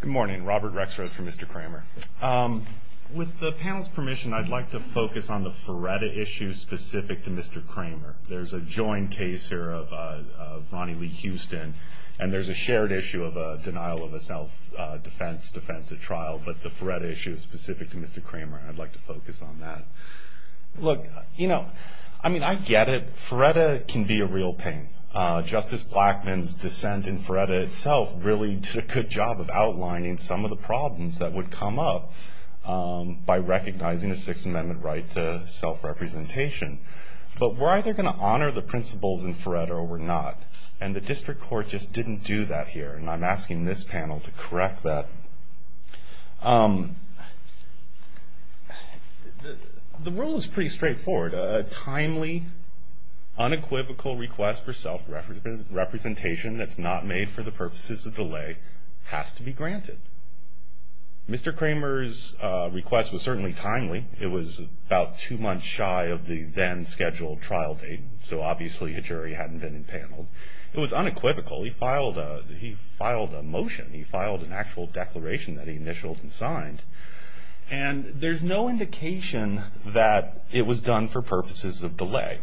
Good morning. Robert Rexford from Mr. Cramer. With the panel's permission, I'd like to focus on the Feretta issue specific to Mr. Cramer. There's a joint case here of Ronnie Lee Houston, and there's a shared issue of a denial of a self-defense, defensive trial, but the Feretta issue is specific to Mr. Cramer. I'd like to focus on that. Look, you know, I mean, I get it. Feretta can be a real pain. Justice Blackmun's dissent in Feretta itself really did a good job of outlining some of the problems that would come up by recognizing a Sixth Amendment right to self-representation. But we're either going to honor the principles in Feretta or we're not, and the district court just didn't do that here, and I'm asking this panel to correct that. The rule is pretty straightforward. A timely, unequivocal request for self-representation that's not made for the purposes of delay has to be granted. Mr. Cramer's request was certainly timely. It was about two months shy of the then-scheduled trial date, so obviously a jury hadn't been enpaneled. It was unequivocal. He filed a motion. He filed an actual declaration that he initialed and signed, and there's no indication that it was done for purposes of delay.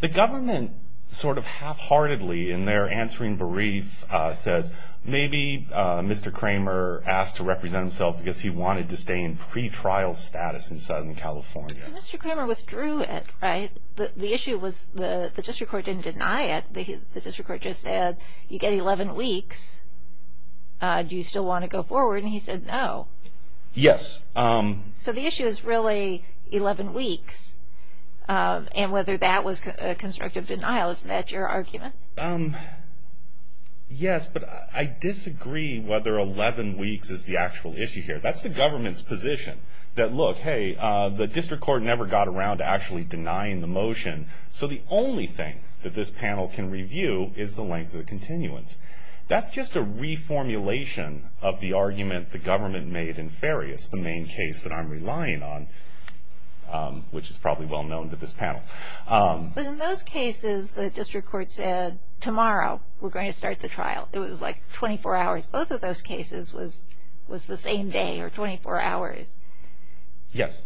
The government sort of half-heartedly in their answering brief says maybe Mr. Cramer asked to represent himself because he wanted to stay in pretrial status in Southern California. Mr. Cramer withdrew it, right? The issue was the district court didn't deny it. The district court just said you get 11 weeks. Do you still want to go forward? And he said no. Yes. So the issue is really 11 weeks, and whether that was a constructive denial. Isn't that your argument? Yes, but I disagree whether 11 weeks is the actual issue here. That's the government's position, that look, hey, the district court never got around to actually denying the motion, so the only thing that this panel can review is the length of the continuance. That's just a reformulation of the argument the government made in Farias, the main case that I'm relying on, which is probably well-known to this panel. But in those cases, the district court said tomorrow we're going to start the trial. It was like 24 hours. Both of those cases was the same day or 24 hours. Yes.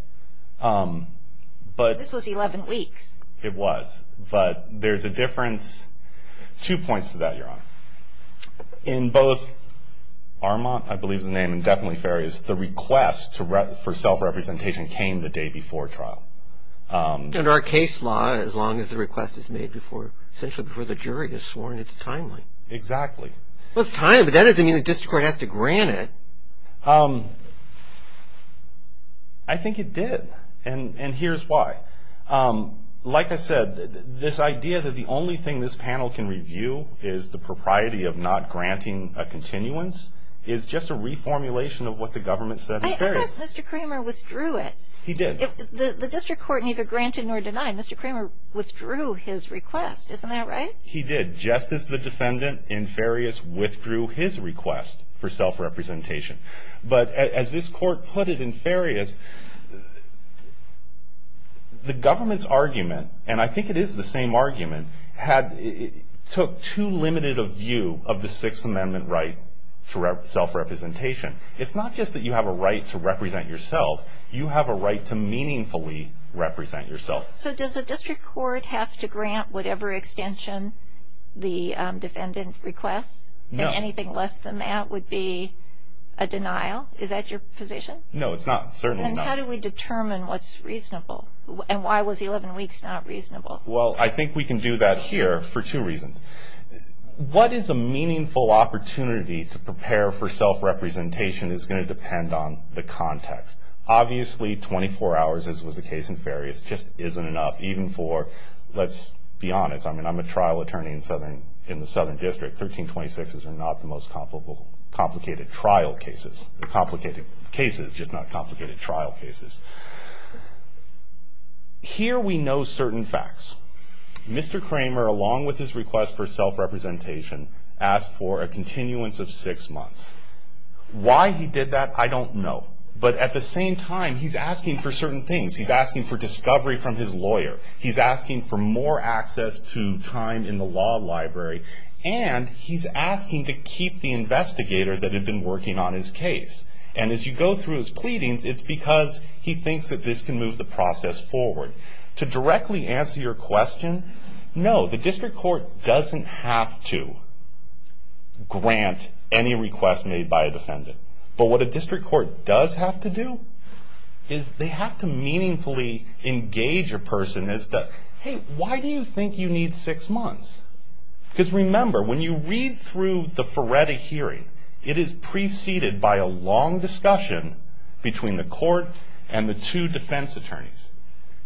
This was 11 weeks. It was. But there's a difference. Two points to that, Your Honor. In both Armand, I believe is the name, and definitely Farias, the request for self-representation came the day before trial. Under our case law, as long as the request is made essentially before the jury is sworn, it's timely. Exactly. Well, it's timely, but that doesn't mean the district court has to grant it. I think it did, and here's why. Like I said, this idea that the only thing this panel can review is the propriety of not granting a continuance is just a reformulation of what the government said in Farias. I thought Mr. Kramer withdrew it. He did. The district court neither granted nor denied. Mr. Kramer withdrew his request. Isn't that right? He did. Just as the defendant in Farias withdrew his request for self-representation. But as this court put it in Farias, the government's argument, and I think it is the same argument, took too limited a view of the Sixth Amendment right to self-representation. It's not just that you have a right to represent yourself. You have a right to meaningfully represent yourself. So does the district court have to grant whatever extension the defendant requests? No. And anything less than that would be a denial? Is that your position? No, it's not. Certainly not. Then how do we determine what's reasonable? And why was 11 weeks not reasonable? Well, I think we can do that here for two reasons. What is a meaningful opportunity to prepare for self-representation is going to depend on the context. Obviously, 24 hours, as was the case in Farias, just isn't enough, even for, let's be honest, I mean, I'm a trial attorney in the Southern District. 1326s are not the most complicated trial cases. Complicated cases, just not complicated trial cases. Here we know certain facts. Mr. Kramer, along with his request for self-representation, asked for a continuance of six months. Why he did that, I don't know. But at the same time, he's asking for certain things. He's asking for discovery from his lawyer. He's asking for more access to time in the law library. And he's asking to keep the investigator that had been working on his case. And as you go through his pleadings, it's because he thinks that this can move the process forward. To directly answer your question, no, the district court doesn't have to grant any request made by a defendant. But what a district court does have to do is they have to meaningfully engage a person as to, hey, why do you think you need six months? Because remember, when you read through the Ferretti hearing, it is preceded by a long discussion between the court and the two defense attorneys.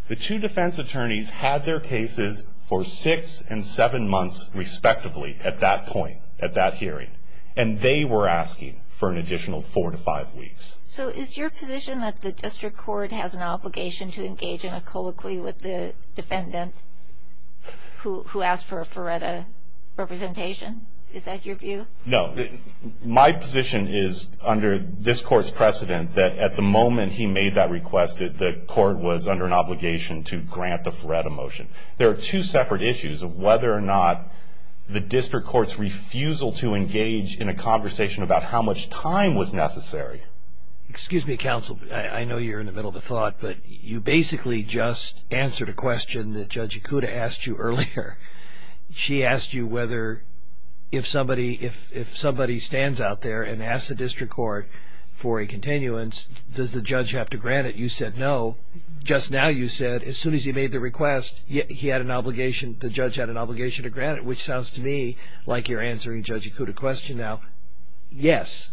The two defense attorneys had their cases for six and seven months, respectively, at that point, at that hearing. And they were asking for an additional four to five weeks. So is your position that the district court has an obligation to engage in a colloquy with the defendant who asked for a Ferretti representation? Is that your view? No. My position is, under this court's precedent, that at the moment he made that request, the court was under an obligation to grant the Ferretti motion. There are two separate issues of whether or not the district court's refusal to engage in a conversation about how much time was necessary. Excuse me, counsel. I know you're in the middle of a thought, but you basically just answered a question that Judge Ikuda asked you earlier. She asked you whether if somebody stands out there and asks the district court for a continuance, does the judge have to grant it? You said no. Well, just now you said as soon as he made the request, he had an obligation, the judge had an obligation to grant it, which sounds to me like you're answering Judge Ikuda's question now. Yes.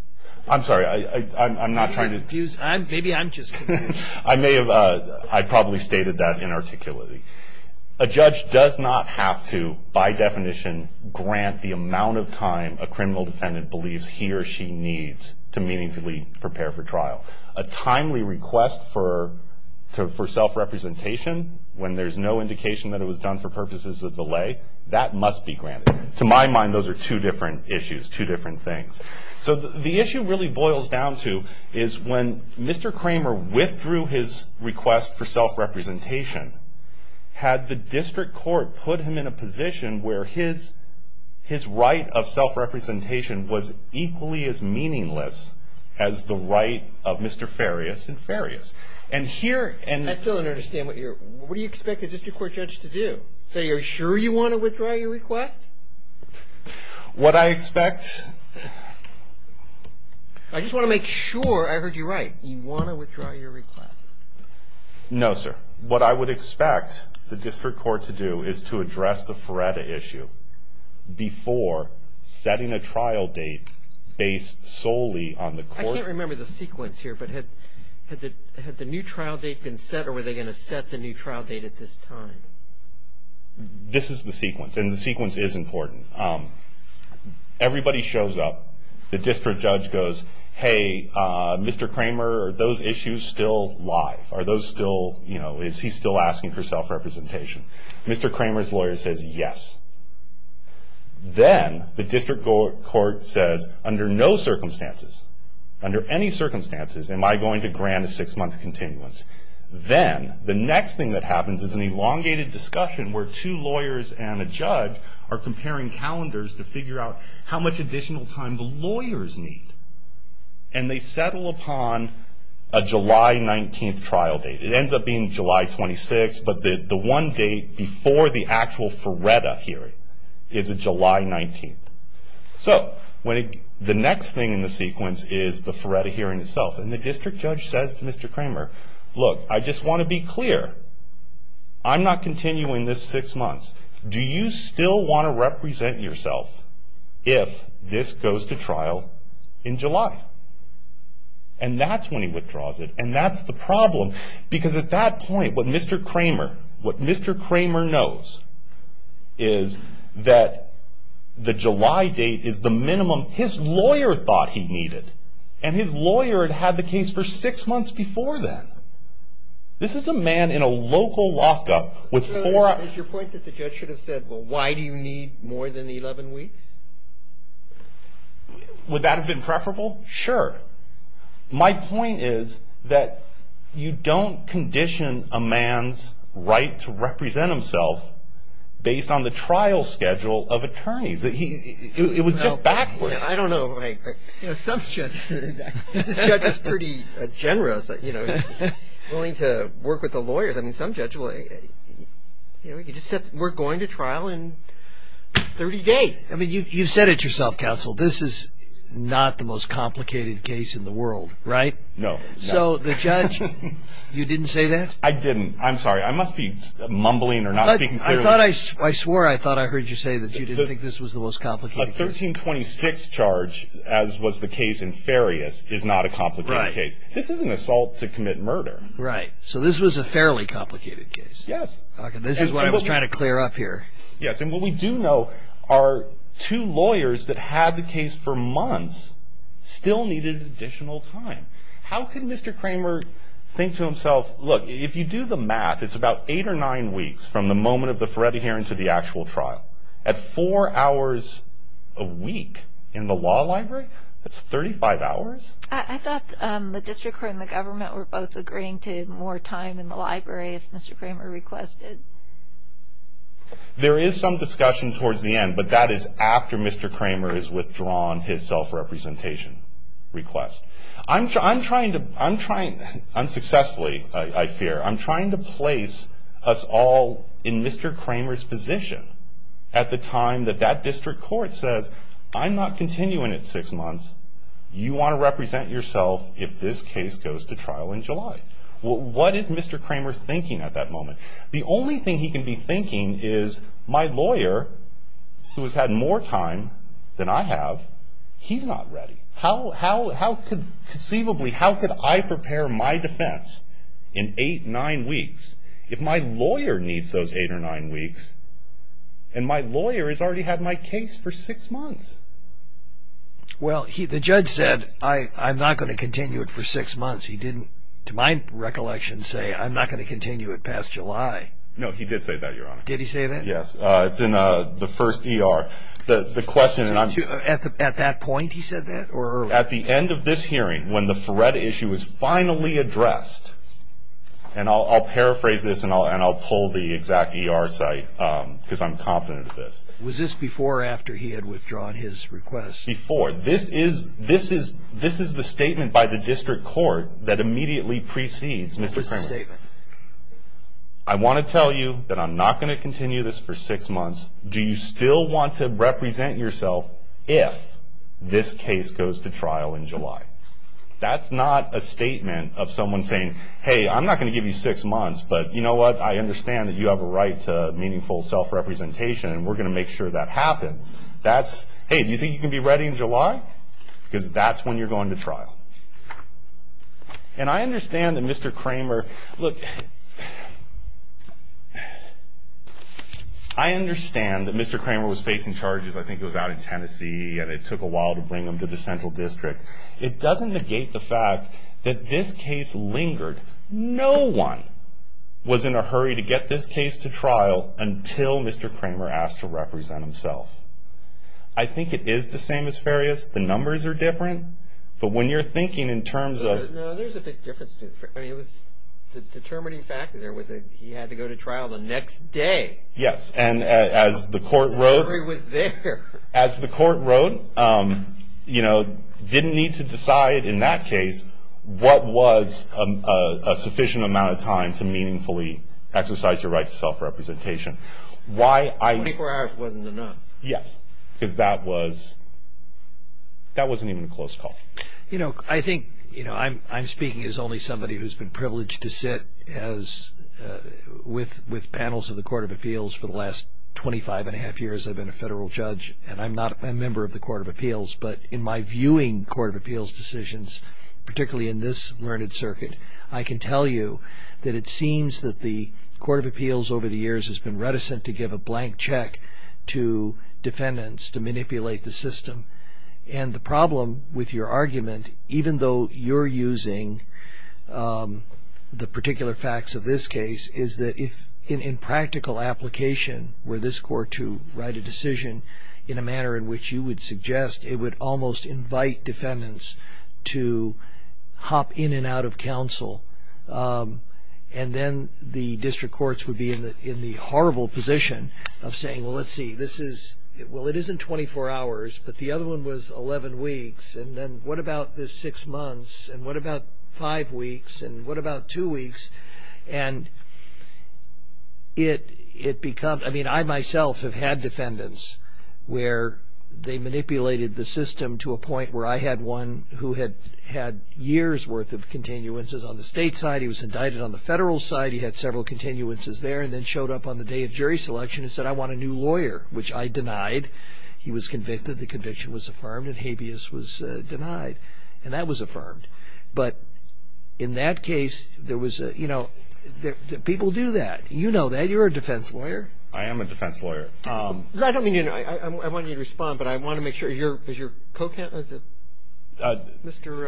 I'm sorry. I'm not trying to confuse. Maybe I'm just confusing. I may have. I probably stated that inarticulately. A judge does not have to, by definition, grant the amount of time a criminal defendant believes he or she needs to meaningfully prepare for trial. A timely request for self-representation when there's no indication that it was done for purposes of delay, that must be granted. To my mind, those are two different issues, two different things. So the issue really boils down to is when Mr. Kramer withdrew his request for self-representation, had the district court put him in a position where his right of self-representation was equally as meaningless as the right of Mr. Farias and Farias? I still don't understand what you're – what do you expect a district court judge to do? Say, are you sure you want to withdraw your request? What I expect – I just want to make sure I heard you right. You want to withdraw your request. No, sir. What I would expect the district court to do is to address the Feretta issue before setting a trial date based solely on the court's – I can't remember the sequence here, but had the new trial date been set or were they going to set the new trial date at this time? This is the sequence, and the sequence is important. Everybody shows up. The district judge goes, hey, Mr. Kramer, are those issues still live? Are those still – is he still asking for self-representation? Mr. Kramer's lawyer says, yes. Then the district court says, under no circumstances, under any circumstances, am I going to grant a six-month continuance? Then the next thing that happens is an elongated discussion where two lawyers and a judge are comparing calendars to figure out how much additional time the lawyers need, and they settle upon a July 19th trial date. It ends up being July 26th, but the one date before the actual Feretta hearing is a July 19th. So the next thing in the sequence is the Feretta hearing itself, and the district judge says to Mr. Kramer, look, I just want to be clear. I'm not continuing this six months. Do you still want to represent yourself if this goes to trial in July? And that's when he withdraws it, and that's the problem, because at that point, what Mr. Kramer – what Mr. Kramer knows is that the July date is the minimum his lawyer thought he needed, and his lawyer had had the case for six months before then. This is a man in a local lockup with four – So is your point that the judge should have said, well, why do you need more than 11 weeks? Would that have been preferable? Sure. My point is that you don't condition a man's right to represent himself based on the trial schedule of attorneys. It was just backwards. I don't know. Some judges – this judge was pretty generous, willing to work with the lawyers. I mean, some judge will – he just said, we're going to trial in 30 days. I mean, you've said it yourself, counsel. This is not the most complicated case in the world, right? No. So the judge – you didn't say that? I didn't. I'm sorry. I must be mumbling or not speaking clearly. I thought I – I swore I thought I heard you say that you didn't think this was the most complicated case. A 1326 charge, as was the case in Farias, is not a complicated case. This is an assault to commit murder. Right. So this was a fairly complicated case. Yes. Okay. This is what I was trying to clear up here. Yes. And what we do know are two lawyers that had the case for months still needed additional time. How can Mr. Kramer think to himself, look, if you do the math, it's about eight or nine weeks from the moment of the Feretti hearing to the actual trial. At four hours a week in the law library? That's 35 hours? I thought the district court and the government were both agreeing to more time in the library if Mr. Kramer requested. There is some discussion towards the end, but that is after Mr. Kramer has withdrawn his self-representation request. Unsuccessfully, I fear, I'm trying to place us all in Mr. Kramer's position at the time that that district court says, I'm not continuing it six months. You want to represent yourself if this case goes to trial in July. What is Mr. Kramer thinking at that moment? The only thing he can be thinking is, my lawyer, who has had more time than I have, he's not ready. Conceivably, how could I prepare my defense in eight, nine weeks if my lawyer needs those eight or nine weeks and my lawyer has already had my case for six months? Well, the judge said, I'm not going to continue it for six months. He didn't, to my recollection, say, I'm not going to continue it past July. No, he did say that, Your Honor. Did he say that? Yes, it's in the first ER. At that point, he said that? At the end of this hearing, when the FRED issue is finally addressed, and I'll paraphrase this and I'll pull the exact ER site because I'm confident of this. Was this before or after he had withdrawn his request? Before. This is the statement by the district court that immediately precedes Mr. Kramer. What's the statement? I want to tell you that I'm not going to continue this for six months. Do you still want to represent yourself if this case goes to trial in July? That's not a statement of someone saying, hey, I'm not going to give you six months, but you know what, I understand that you have a right to meaningful self-representation and we're going to make sure that happens. That's, hey, do you think you can be ready in July? Because that's when you're going to trial. And I understand that Mr. Kramer, look, I understand that Mr. Kramer was facing charges. I think it was out in Tennessee and it took a while to bring him to the central district. It doesn't negate the fact that this case lingered. No one was in a hurry to get this case to trial until Mr. Kramer asked to represent himself. I think it is the same as Farias. The numbers are different, but when you're thinking in terms of – No, there's a big difference. I mean, it was the determining factor there was that he had to go to trial the next day. Yes, and as the court wrote – The memory was there. As the court wrote, you know, didn't need to decide in that case what was a sufficient amount of time to meaningfully exercise your right to self-representation. 24 hours wasn't enough. Yes, because that wasn't even a close call. I think I'm speaking as only somebody who's been privileged to sit with panels of the Court of Appeals. For the last 25 and a half years, I've been a federal judge, and I'm not a member of the Court of Appeals. But in my viewing Court of Appeals decisions, particularly in this learned circuit, I can tell you that it seems that the Court of Appeals over the years has been reticent to give a blank check to defendants to manipulate the system. And the problem with your argument, even though you're using the particular facts of this case, is that if in practical application were this court to write a decision in a manner in which you would suggest, it would almost invite defendants to hop in and out of counsel. And then the district courts would be in the horrible position of saying, well, let's see, this is, well, it isn't 24 hours, but the other one was 11 weeks, and then what about this six months, and what about five weeks, and what about two weeks? And it becomes, I mean, I myself have had defendants where they manipulated the system to a point where I had one who had had years' worth of continuances on the state side. He was indicted on the federal side. He had several continuances there and then showed up on the day of jury selection and said, I want a new lawyer, which I denied. He was convicted. The conviction was affirmed, and habeas was denied, and that was affirmed. But in that case, there was a, you know, people do that. You know that. You're a defense lawyer. I am a defense lawyer. I don't mean to, you know, I want you to respond, but I want to make sure. Is your co-counsel? Mr.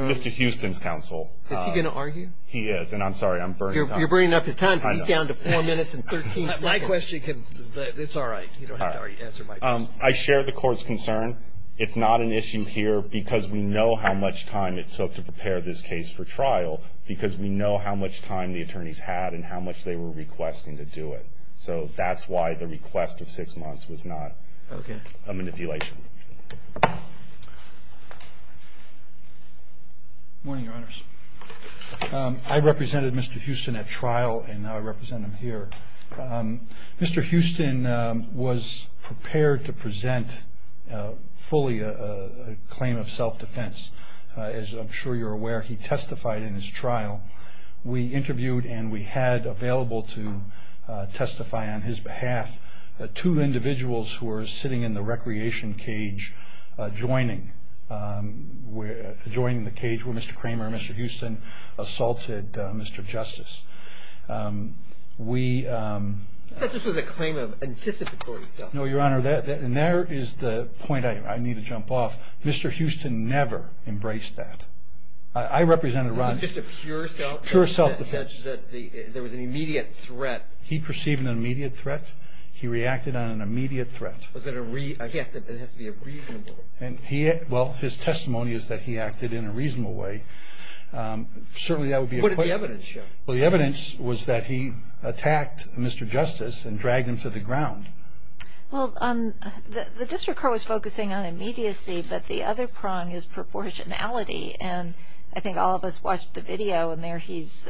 Mr. Houston's counsel. Is he going to argue? He is, and I'm sorry. I'm burning time. You're burning up his time. He's down to four minutes and 13 seconds. My question can, it's all right. You don't have to answer my question. I share the court's concern. It's not an issue here because we know how much time it took to prepare this case for trial because we know how much time the attorneys had and how much they were requesting to do it. So that's why the request of six months was not a manipulation. Morning, Your Honors. I represented Mr. Houston at trial, and now I represent him here. Mr. Houston was prepared to present fully a claim of self-defense. As I'm sure you're aware, he testified in his trial. We interviewed, and we had available to testify on his behalf, two individuals who were sitting in the recreation cage, joining the cage where Mr. Kramer and Mr. Houston assaulted Mr. Justice. I thought this was a claim of anticipatory self-defense. No, Your Honor, and there is the point I need to jump off. Mr. Houston never embraced that. I represented Ron's pure self-defense. There was an immediate threat. He perceived an immediate threat. He reacted on an immediate threat. It has to be reasonable. Well, his testimony is that he acted in a reasonable way. Certainly that would be a claim. What did the evidence show? Well, the evidence was that he attacked Mr. Justice and dragged him to the ground. Well, the district court was focusing on immediacy, but the other prong is proportionality, and I think all of us watched the video, and there he's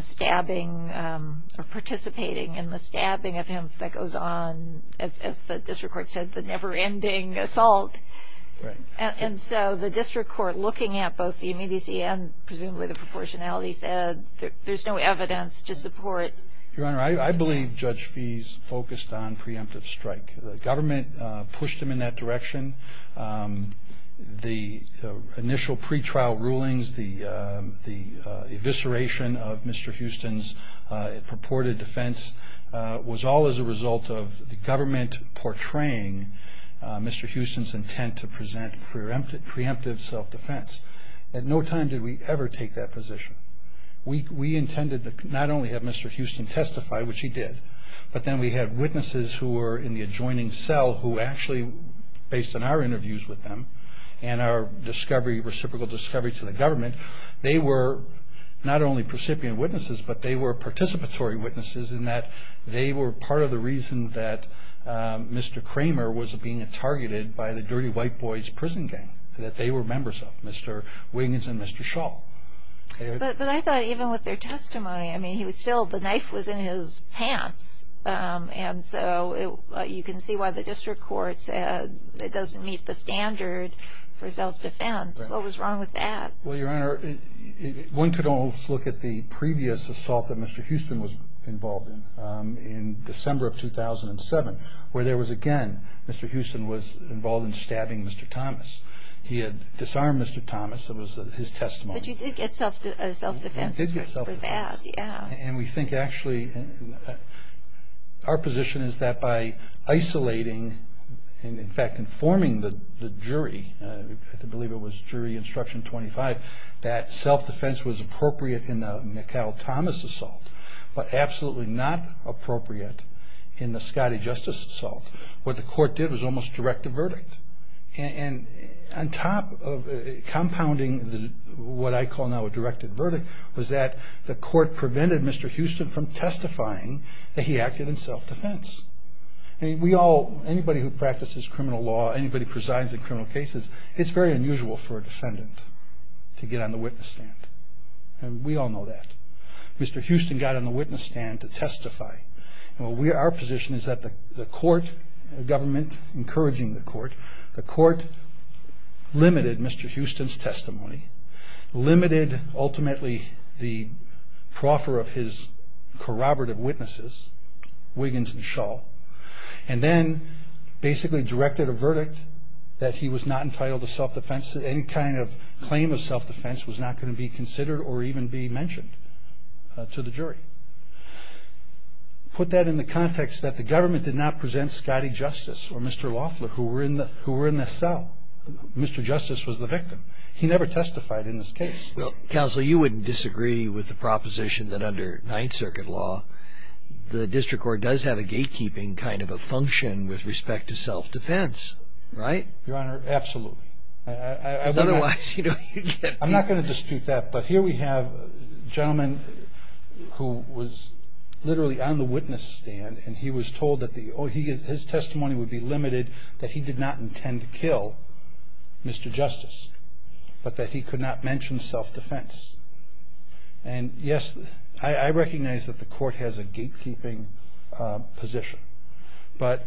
stabbing or participating in the stabbing of him that goes on, as the district court said, the never-ending assault. And so the district court, looking at both the immediacy and presumably the proportionality, said there's no evidence to support. Your Honor, I believe Judge Fees focused on preemptive strike. The government pushed him in that direction. The initial pretrial rulings, the evisceration of Mr. Houston's purported defense, was all as a result of the government portraying Mr. Houston's intent to present preemptive self-defense. At no time did we ever take that position. We intended to not only have Mr. Houston testify, which he did, but then we had witnesses who were in the adjoining cell who actually, based on our interviews with them and our discovery, reciprocal discovery to the government, they were not only precipient witnesses, but they were participatory witnesses in that they were part of the reason that Mr. Kramer was being targeted by the Dirty White Boys prison gang, that they were members of, Mr. Wiggins and Mr. Shaw. But I thought even with their testimony, I mean, he was still, the knife was in his pants, and so you can see why the district court said it doesn't meet the standard for self-defense. What was wrong with that? Well, Your Honor, one could almost look at the previous assault that Mr. Houston was involved in, in December of 2007, where there was again, Mr. Houston was involved in stabbing Mr. Thomas. He had disarmed Mr. Thomas. It was his testimony. But you did get self-defense for that, yeah. And we think actually, our position is that by isolating and in fact informing the jury, I believe it was Jury Instruction 25, that self-defense was appropriate in the McHale-Thomas assault, but absolutely not appropriate in the Scottie Justice assault. What the court did was almost direct a verdict. And on top of compounding what I call now a directed verdict, was that the court prevented Mr. Houston from testifying that he acted in self-defense. I mean, we all, anybody who practices criminal law, anybody who presides in criminal cases, it's very unusual for a defendant to get on the witness stand. And we all know that. Mr. Houston got on the witness stand to testify. Our position is that the court, the government encouraging the court, the court limited Mr. Houston's testimony, limited ultimately the proffer of his corroborative witnesses, Wiggins and Shaw, and then basically directed a verdict that he was not entitled to self-defense. Any kind of claim of self-defense was not going to be considered or even be mentioned to the jury. Put that in the context that the government did not present Scottie Justice or Mr. Loeffler, who were in the cell. Mr. Justice was the victim. He never testified in this case. Counsel, you wouldn't disagree with the proposition that under Ninth Circuit law, the district court does have a gatekeeping kind of a function with respect to self-defense, right? Your Honor, absolutely. Because otherwise, you know, you'd get beat. I'm not going to dispute that. But here we have a gentleman who was literally on the witness stand, and he was told that his testimony would be limited, that he did not intend to kill Mr. Justice, but that he could not mention self-defense. And, yes, I recognize that the court has a gatekeeping position. But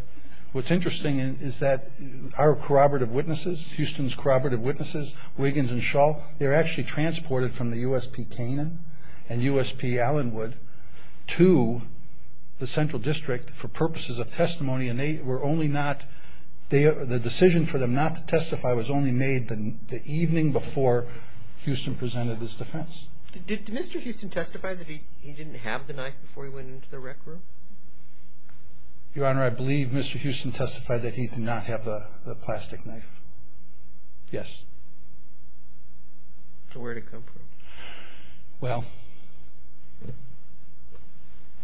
what's interesting is that our corroborative witnesses, Houston's corroborative witnesses, Wiggins and Shull, they're actually transported from the USP Canaan and USP Allenwood to the Central District for purposes of testimony, and they were only not the decision for them not to testify was only made the evening before Houston presented his defense. Did Mr. Houston testify that he didn't have the knife before he went into the rec room? Your Honor, I believe Mr. Houston testified that he did not have the plastic knife. Yes. So where did it come from? Well,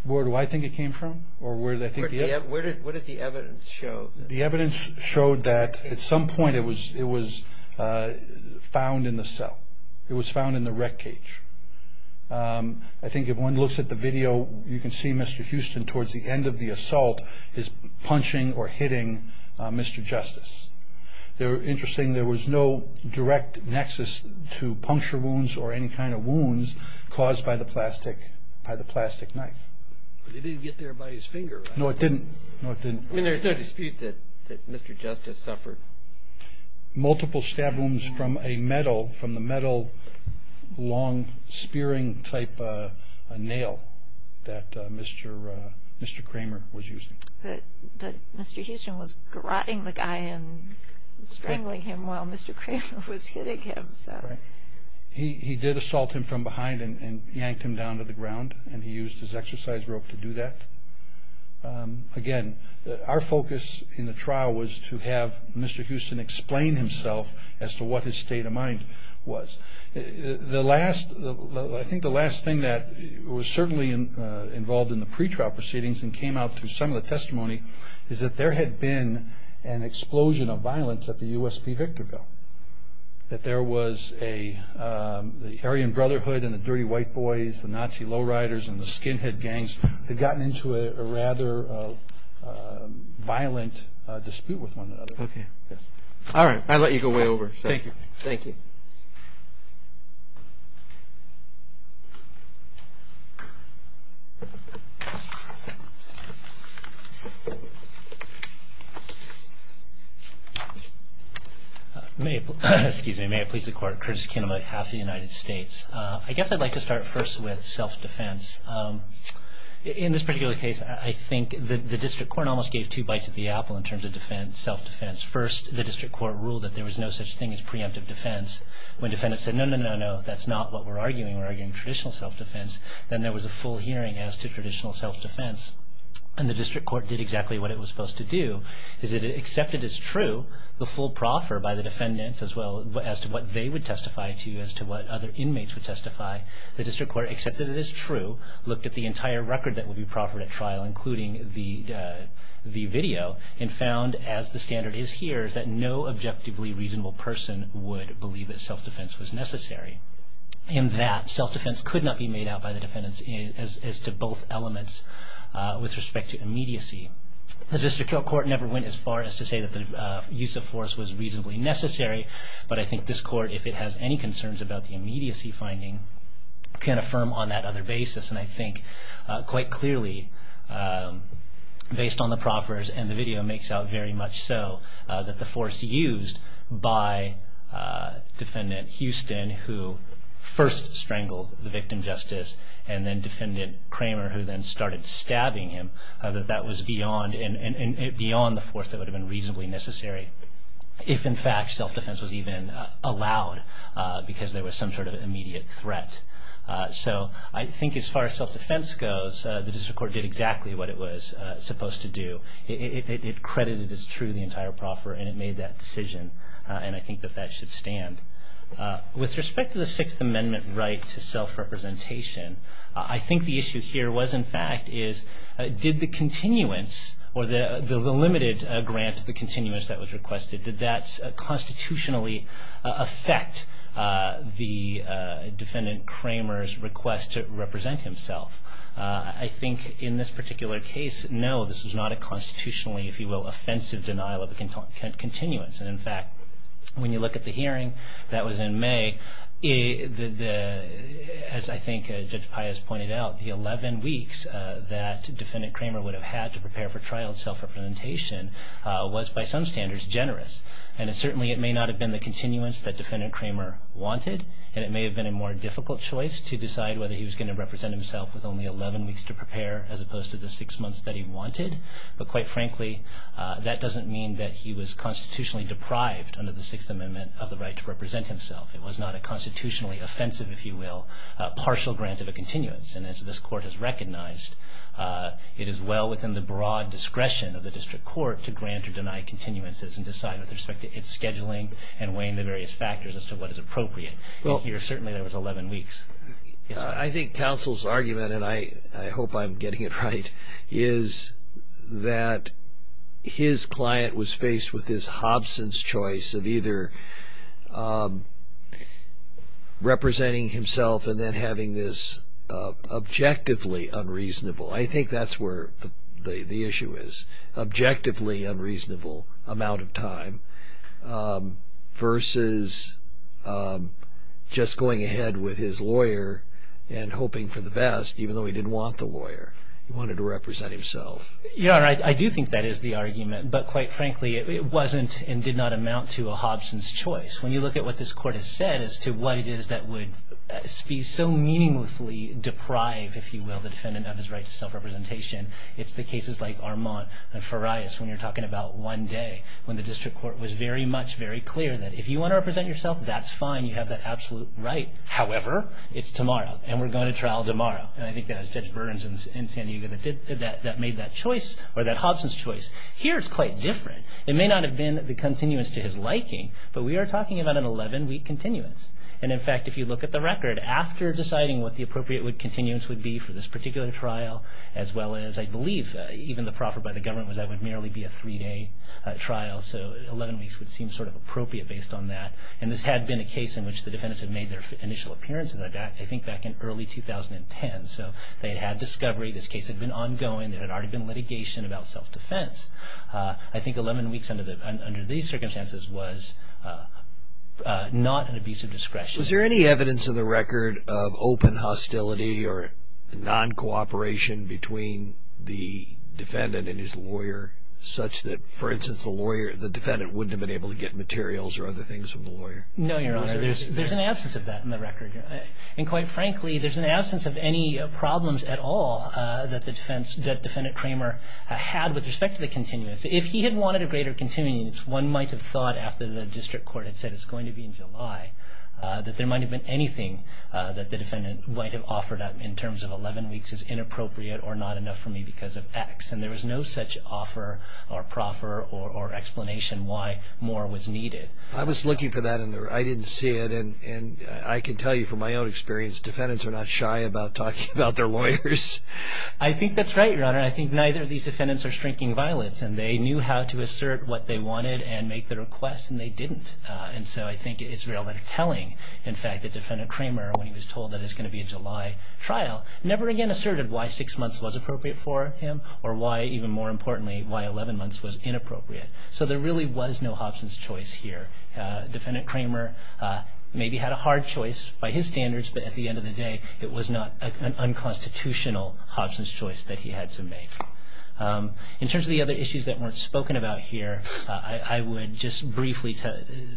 where do I think it came from, or where did I think it came from? What did the evidence show? The evidence showed that at some point it was found in the cell. It was found in the rec cage. I think if one looks at the video, you can see Mr. Houston towards the end of the assault is punching or hitting Mr. Justice. Interesting, there was no direct nexus to puncture wounds or any kind of wounds caused by the plastic knife. But it didn't get there by his finger. No, it didn't. There's no dispute that Mr. Justice suffered. Multiple stab wounds from a metal, from the metal long spearing type nail that Mr. Kramer was using. But Mr. Houston was grotting the guy and strangling him while Mr. Kramer was hitting him. He did assault him from behind and yanked him down to the ground, and he used his exercise rope to do that. Again, our focus in the trial was to have Mr. Houston explain himself as to what his state of mind was. I think the last thing that was certainly involved in the pretrial proceedings and came out through some of the testimony is that there had been an explosion of violence at the USP Victorville, that there was the Aryan Brotherhood and the Dirty White Boys, the Nazis, the Nazi Low Riders, and the Skinhead Gangs had gotten into a rather violent dispute with one another. All right, I'll let you go way over. Thank you. Thank you. May I please the court. Curtis Kinnaman, House of the United States. I guess I'd like to start first with self-defense. In this particular case, I think the district court almost gave two bites of the apple in terms of self-defense. First, the district court ruled that there was no such thing as preemptive defense. When defendants said, no, no, no, no, that's not what we're arguing. We're arguing traditional self-defense. Then there was a full hearing as to traditional self-defense. And the district court did exactly what it was supposed to do, is it accepted as true the full proffer by the defendants as to what they would testify to, as to what other inmates would testify. The district court accepted it as true, looked at the entire record that would be proffered at trial, including the video, and found, as the standard is here, that no objectively reasonable person would believe that self-defense was necessary. In that, self-defense could not be made out by the defendants as to both elements with respect to immediacy. The district court never went as far as to say that the use of force was reasonably necessary, but I think this court, if it has any concerns about the immediacy finding, can affirm on that other basis. And I think quite clearly, based on the proffers and the video, makes out very much so that the force used by Defendant Houston, who first strangled the victim justice, and then Defendant Kramer, who then started stabbing him, that that was beyond the force that would have been reasonably necessary, if in fact self-defense was even allowed because there was some sort of immediate threat. So I think as far as self-defense goes, the district court did exactly what it was supposed to do. It credited as true the entire proffer, and it made that decision, and I think that that should stand. With respect to the Sixth Amendment right to self-representation, I think the issue here was, in fact, did the continuance, or the limited grant of the continuance that was requested, did that constitutionally affect the Defendant Kramer's request to represent himself? I think in this particular case, no, this was not a constitutionally, if you will, offensive denial of continuance. And in fact, when you look at the hearing that was in May, as I think Judge Pius pointed out, the 11 weeks that Defendant Kramer would have had to prepare for trial of self-representation was, by some standards, generous. And certainly it may not have been the continuance that Defendant Kramer wanted, and it may have been a more difficult choice to decide whether he was going to represent himself with only 11 weeks to prepare, as opposed to the six months that he wanted. But quite frankly, that doesn't mean that he was constitutionally deprived under the Sixth Amendment of the right to represent himself. It was not a constitutionally offensive, if you will, partial grant of a continuance. And as this Court has recognized, it is well within the broad discretion of the District Court to grant or deny continuances and decide with respect to its scheduling and weighing the various factors as to what is appropriate. And here, certainly, there was 11 weeks. I think counsel's argument, and I hope I'm getting it right, is that his client was faced with this Hobson's choice of either representing himself and then having this objectively unreasonable, I think that's where the issue is, objectively unreasonable amount of time, versus just going ahead with his lawyer and hoping for the best, even though he didn't want the lawyer. He wanted to represent himself. Yeah, I do think that is the argument. But quite frankly, it wasn't and did not amount to a Hobson's choice. When you look at what this Court has said as to what it is that would be so meaningfully deprived, if you will, the defendant of his right to self-representation, it's the cases like Armand and Farias when you're talking about one day when the District Court was very much very clear that if you want to represent yourself, that's fine. You have that absolute right. However, it's tomorrow, and we're going to trial tomorrow. And I think that it was Judge Burns in San Diego that made that choice or that Hobson's choice. Here it's quite different. It may not have been the continuance to his liking, but we are talking about an 11-week continuance. And in fact, if you look at the record, after deciding what the appropriate continuance would be for this particular trial, as well as I believe even the proffer by the government was that it would merely be a three-day trial, so 11 weeks would seem sort of appropriate based on that. And this had been a case in which the defendants had made their initial appearances, I think, back in early 2010. So they had had discovery. This case had been ongoing. There had already been litigation about self-defense. I think 11 weeks under these circumstances was not an abuse of discretion. Was there any evidence in the record of open hostility or non-cooperation between the defendant and his lawyer such that, for instance, the defendant wouldn't have been able to get materials or other things from the lawyer? No, Your Honor. There's an absence of that in the record. And quite frankly, there's an absence of any problems at all that the defendant Kramer had with respect to the continuance. If he had wanted a greater continuance, one might have thought after the district court had said it's going to be in July that there might have been anything that the defendant might have offered in terms of 11 weeks as inappropriate or not enough for me because of X. And there was no such offer or proffer or explanation why more was needed. I was looking for that, and I didn't see it. And I can tell you from my own experience, defendants are not shy about talking about their lawyers. I think that's right, Your Honor. I think neither of these defendants are shrinking violets, and they knew how to assert what they wanted and make the request, and they didn't. And so I think it's really telling, in fact, that Defendant Kramer, when he was told that it was going to be a July trial, never again asserted why six months was appropriate for him or why, even more importantly, why 11 months was inappropriate. So there really was no Hobson's choice here. Defendant Kramer maybe had a hard choice by his standards, but at the end of the day it was not an unconstitutional Hobson's choice that he had to make. In terms of the other issues that weren't spoken about here, I would just briefly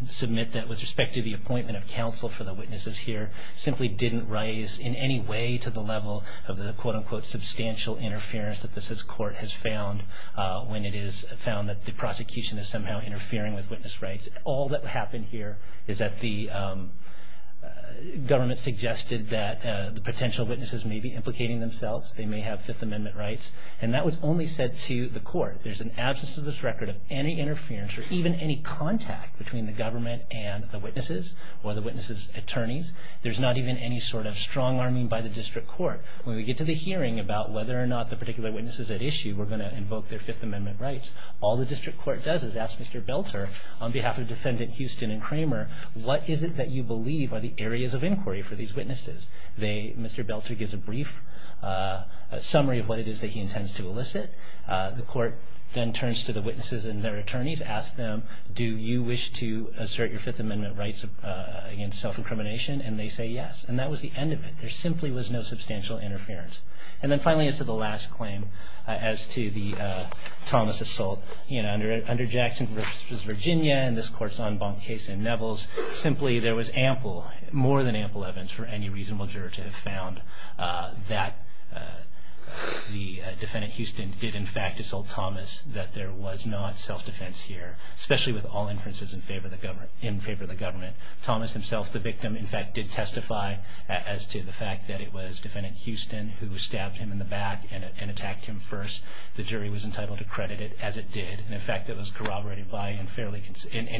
submit that with respect to the appointment of counsel for the witnesses here simply didn't rise in any way to the level of the, quote-unquote, substantial interference that this court has found when it is found that the prosecution is somehow interfering with witness rights. All that happened here is that the government suggested that the potential witnesses may be implicating themselves. They may have Fifth Amendment rights. And that was only said to the court. There's an absence of this record of any interference or even any contact between the government and the witnesses or the witnesses' attorneys. There's not even any sort of strong-arming by the district court. When we get to the hearing about whether or not the particular witnesses at issue were going to invoke their Fifth Amendment rights, all the district court does is ask Mr. Belter, on behalf of Defendant Houston and Kramer, what is it that you believe are the areas of inquiry for these witnesses? Mr. Belter gives a brief summary of what it is that he intends to elicit. The court then turns to the witnesses and their attorneys, asks them, do you wish to assert your Fifth Amendment rights against self-incrimination? And they say yes. And that was the end of it. There simply was no substantial interference. And then finally, as to the last claim, as to the Thomas assault, under Jackson v. Virginia and this court's en banc case in Nevels, simply there was ample, more than ample evidence for any reasonable juror to have found that the Defendant Houston did in fact assault Thomas, that there was not self-defense here, especially with all inferences in favor of the government. Thomas himself, the victim, in fact did testify as to the fact that it was Defendant Houston who stabbed him in the back and attacked him first. The jury was entitled to credit it as it did. And, in fact, it was corroborated by and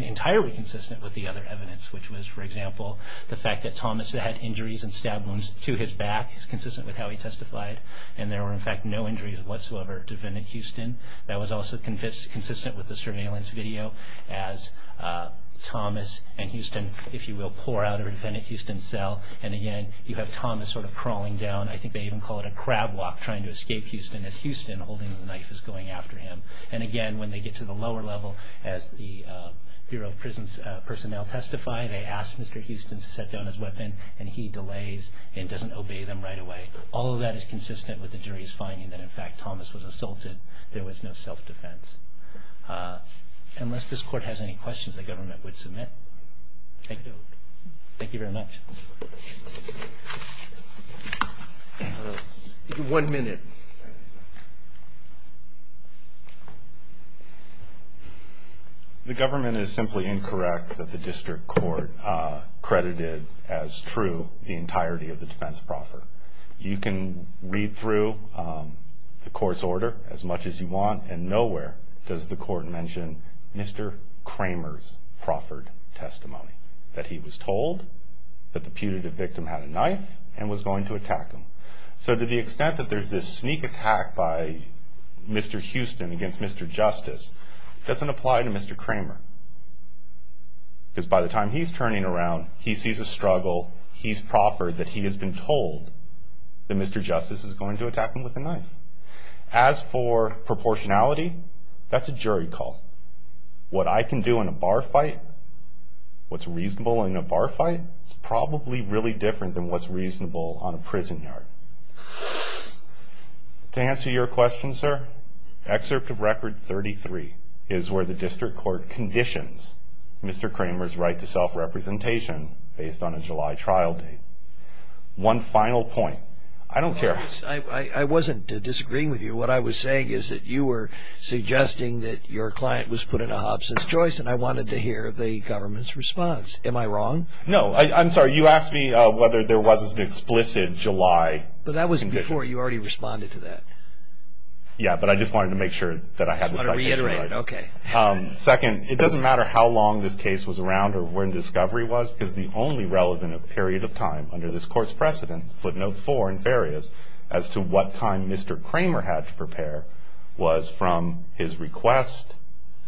entirely consistent with the other evidence, which was, for example, the fact that Thomas had injuries and stab wounds to his back, consistent with how he testified, and there were, in fact, no injuries whatsoever at Defendant Houston. That was also consistent with the surveillance video as Thomas and Houston, if you will, pour out of a Defendant Houston cell. And, again, you have Thomas sort of crawling down. I think they even call it a crab walk trying to escape Houston as Houston, holding the knife, is going after him. And, again, when they get to the lower level, as the Bureau of Prison Personnel testify, they ask Mr. Houston to set down his weapon, and he delays and doesn't obey them right away. All of that is consistent with the jury's finding that, in fact, Thomas was assaulted. There was no self-defense. Unless this Court has any questions, the government would submit. Thank you. Thank you very much. One minute. The government is simply incorrect that the district court credited as true the entirety of the defense proffer. You can read through the court's order as much as you want, and nowhere does the court mention Mr. Kramer's proffered testimony, that he was told that the putative victim had a knife and was going to attack him. So to the extent that there's this sneak attack by Mr. Houston against Mr. Justice doesn't apply to Mr. Kramer. Because by the time he's turning around, he sees a struggle, he's proffered that he has been told that Mr. Justice is going to attack him with a knife. As for proportionality, that's a jury call. What I can do in a bar fight, what's reasonable in a bar fight, is probably really different than what's reasonable on a prison yard. To answer your question, sir, excerpt of record 33 is where the district court conditions Mr. Kramer's right to self-representation based on a July trial date. One final point. I don't care. I wasn't disagreeing with you. What I was saying is that you were suggesting that your client was put in a Hobson's choice, and I wanted to hear the government's response. Am I wrong? No. I'm sorry. You asked me whether there was an explicit July condition. But that was before. You already responded to that. Yeah, but I just wanted to make sure that I had the citation right. I just want to reiterate it. Okay. Second, it doesn't matter how long this case was around or when discovery was, because the only relevant period of time under this court's precedent, footnote 4 in Farias, as to what time Mr. Kramer had to prepare was from his request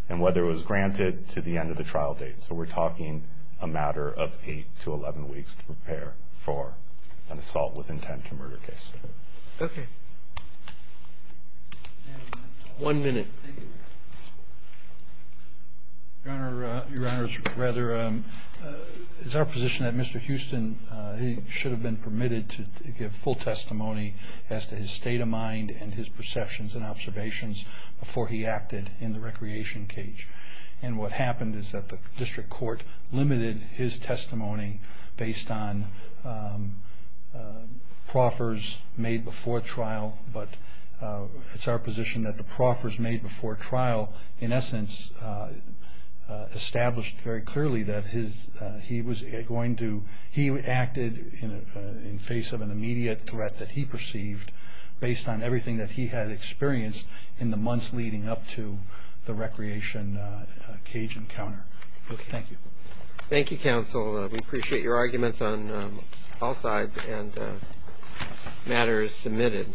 and whether it was granted to the end of the trial date. So we're talking a matter of 8 to 11 weeks to prepare for an assault with intent to murder case. Okay. One minute. Your Honor, it's our position that Mr. Houston, he should have been permitted to give full testimony as to his state of mind and his perceptions and observations before he acted in the recreation cage. And what happened is that the district court limited his testimony based on proffers made before trial. But it's our position that the proffers made before trial, in essence, established very clearly that he acted in face of an immediate threat that he perceived based on everything that he had experienced in the months leading up to the recreation cage encounter. Okay. Thank you. Thank you, counsel. We appreciate your arguments on all sides and matters submitted.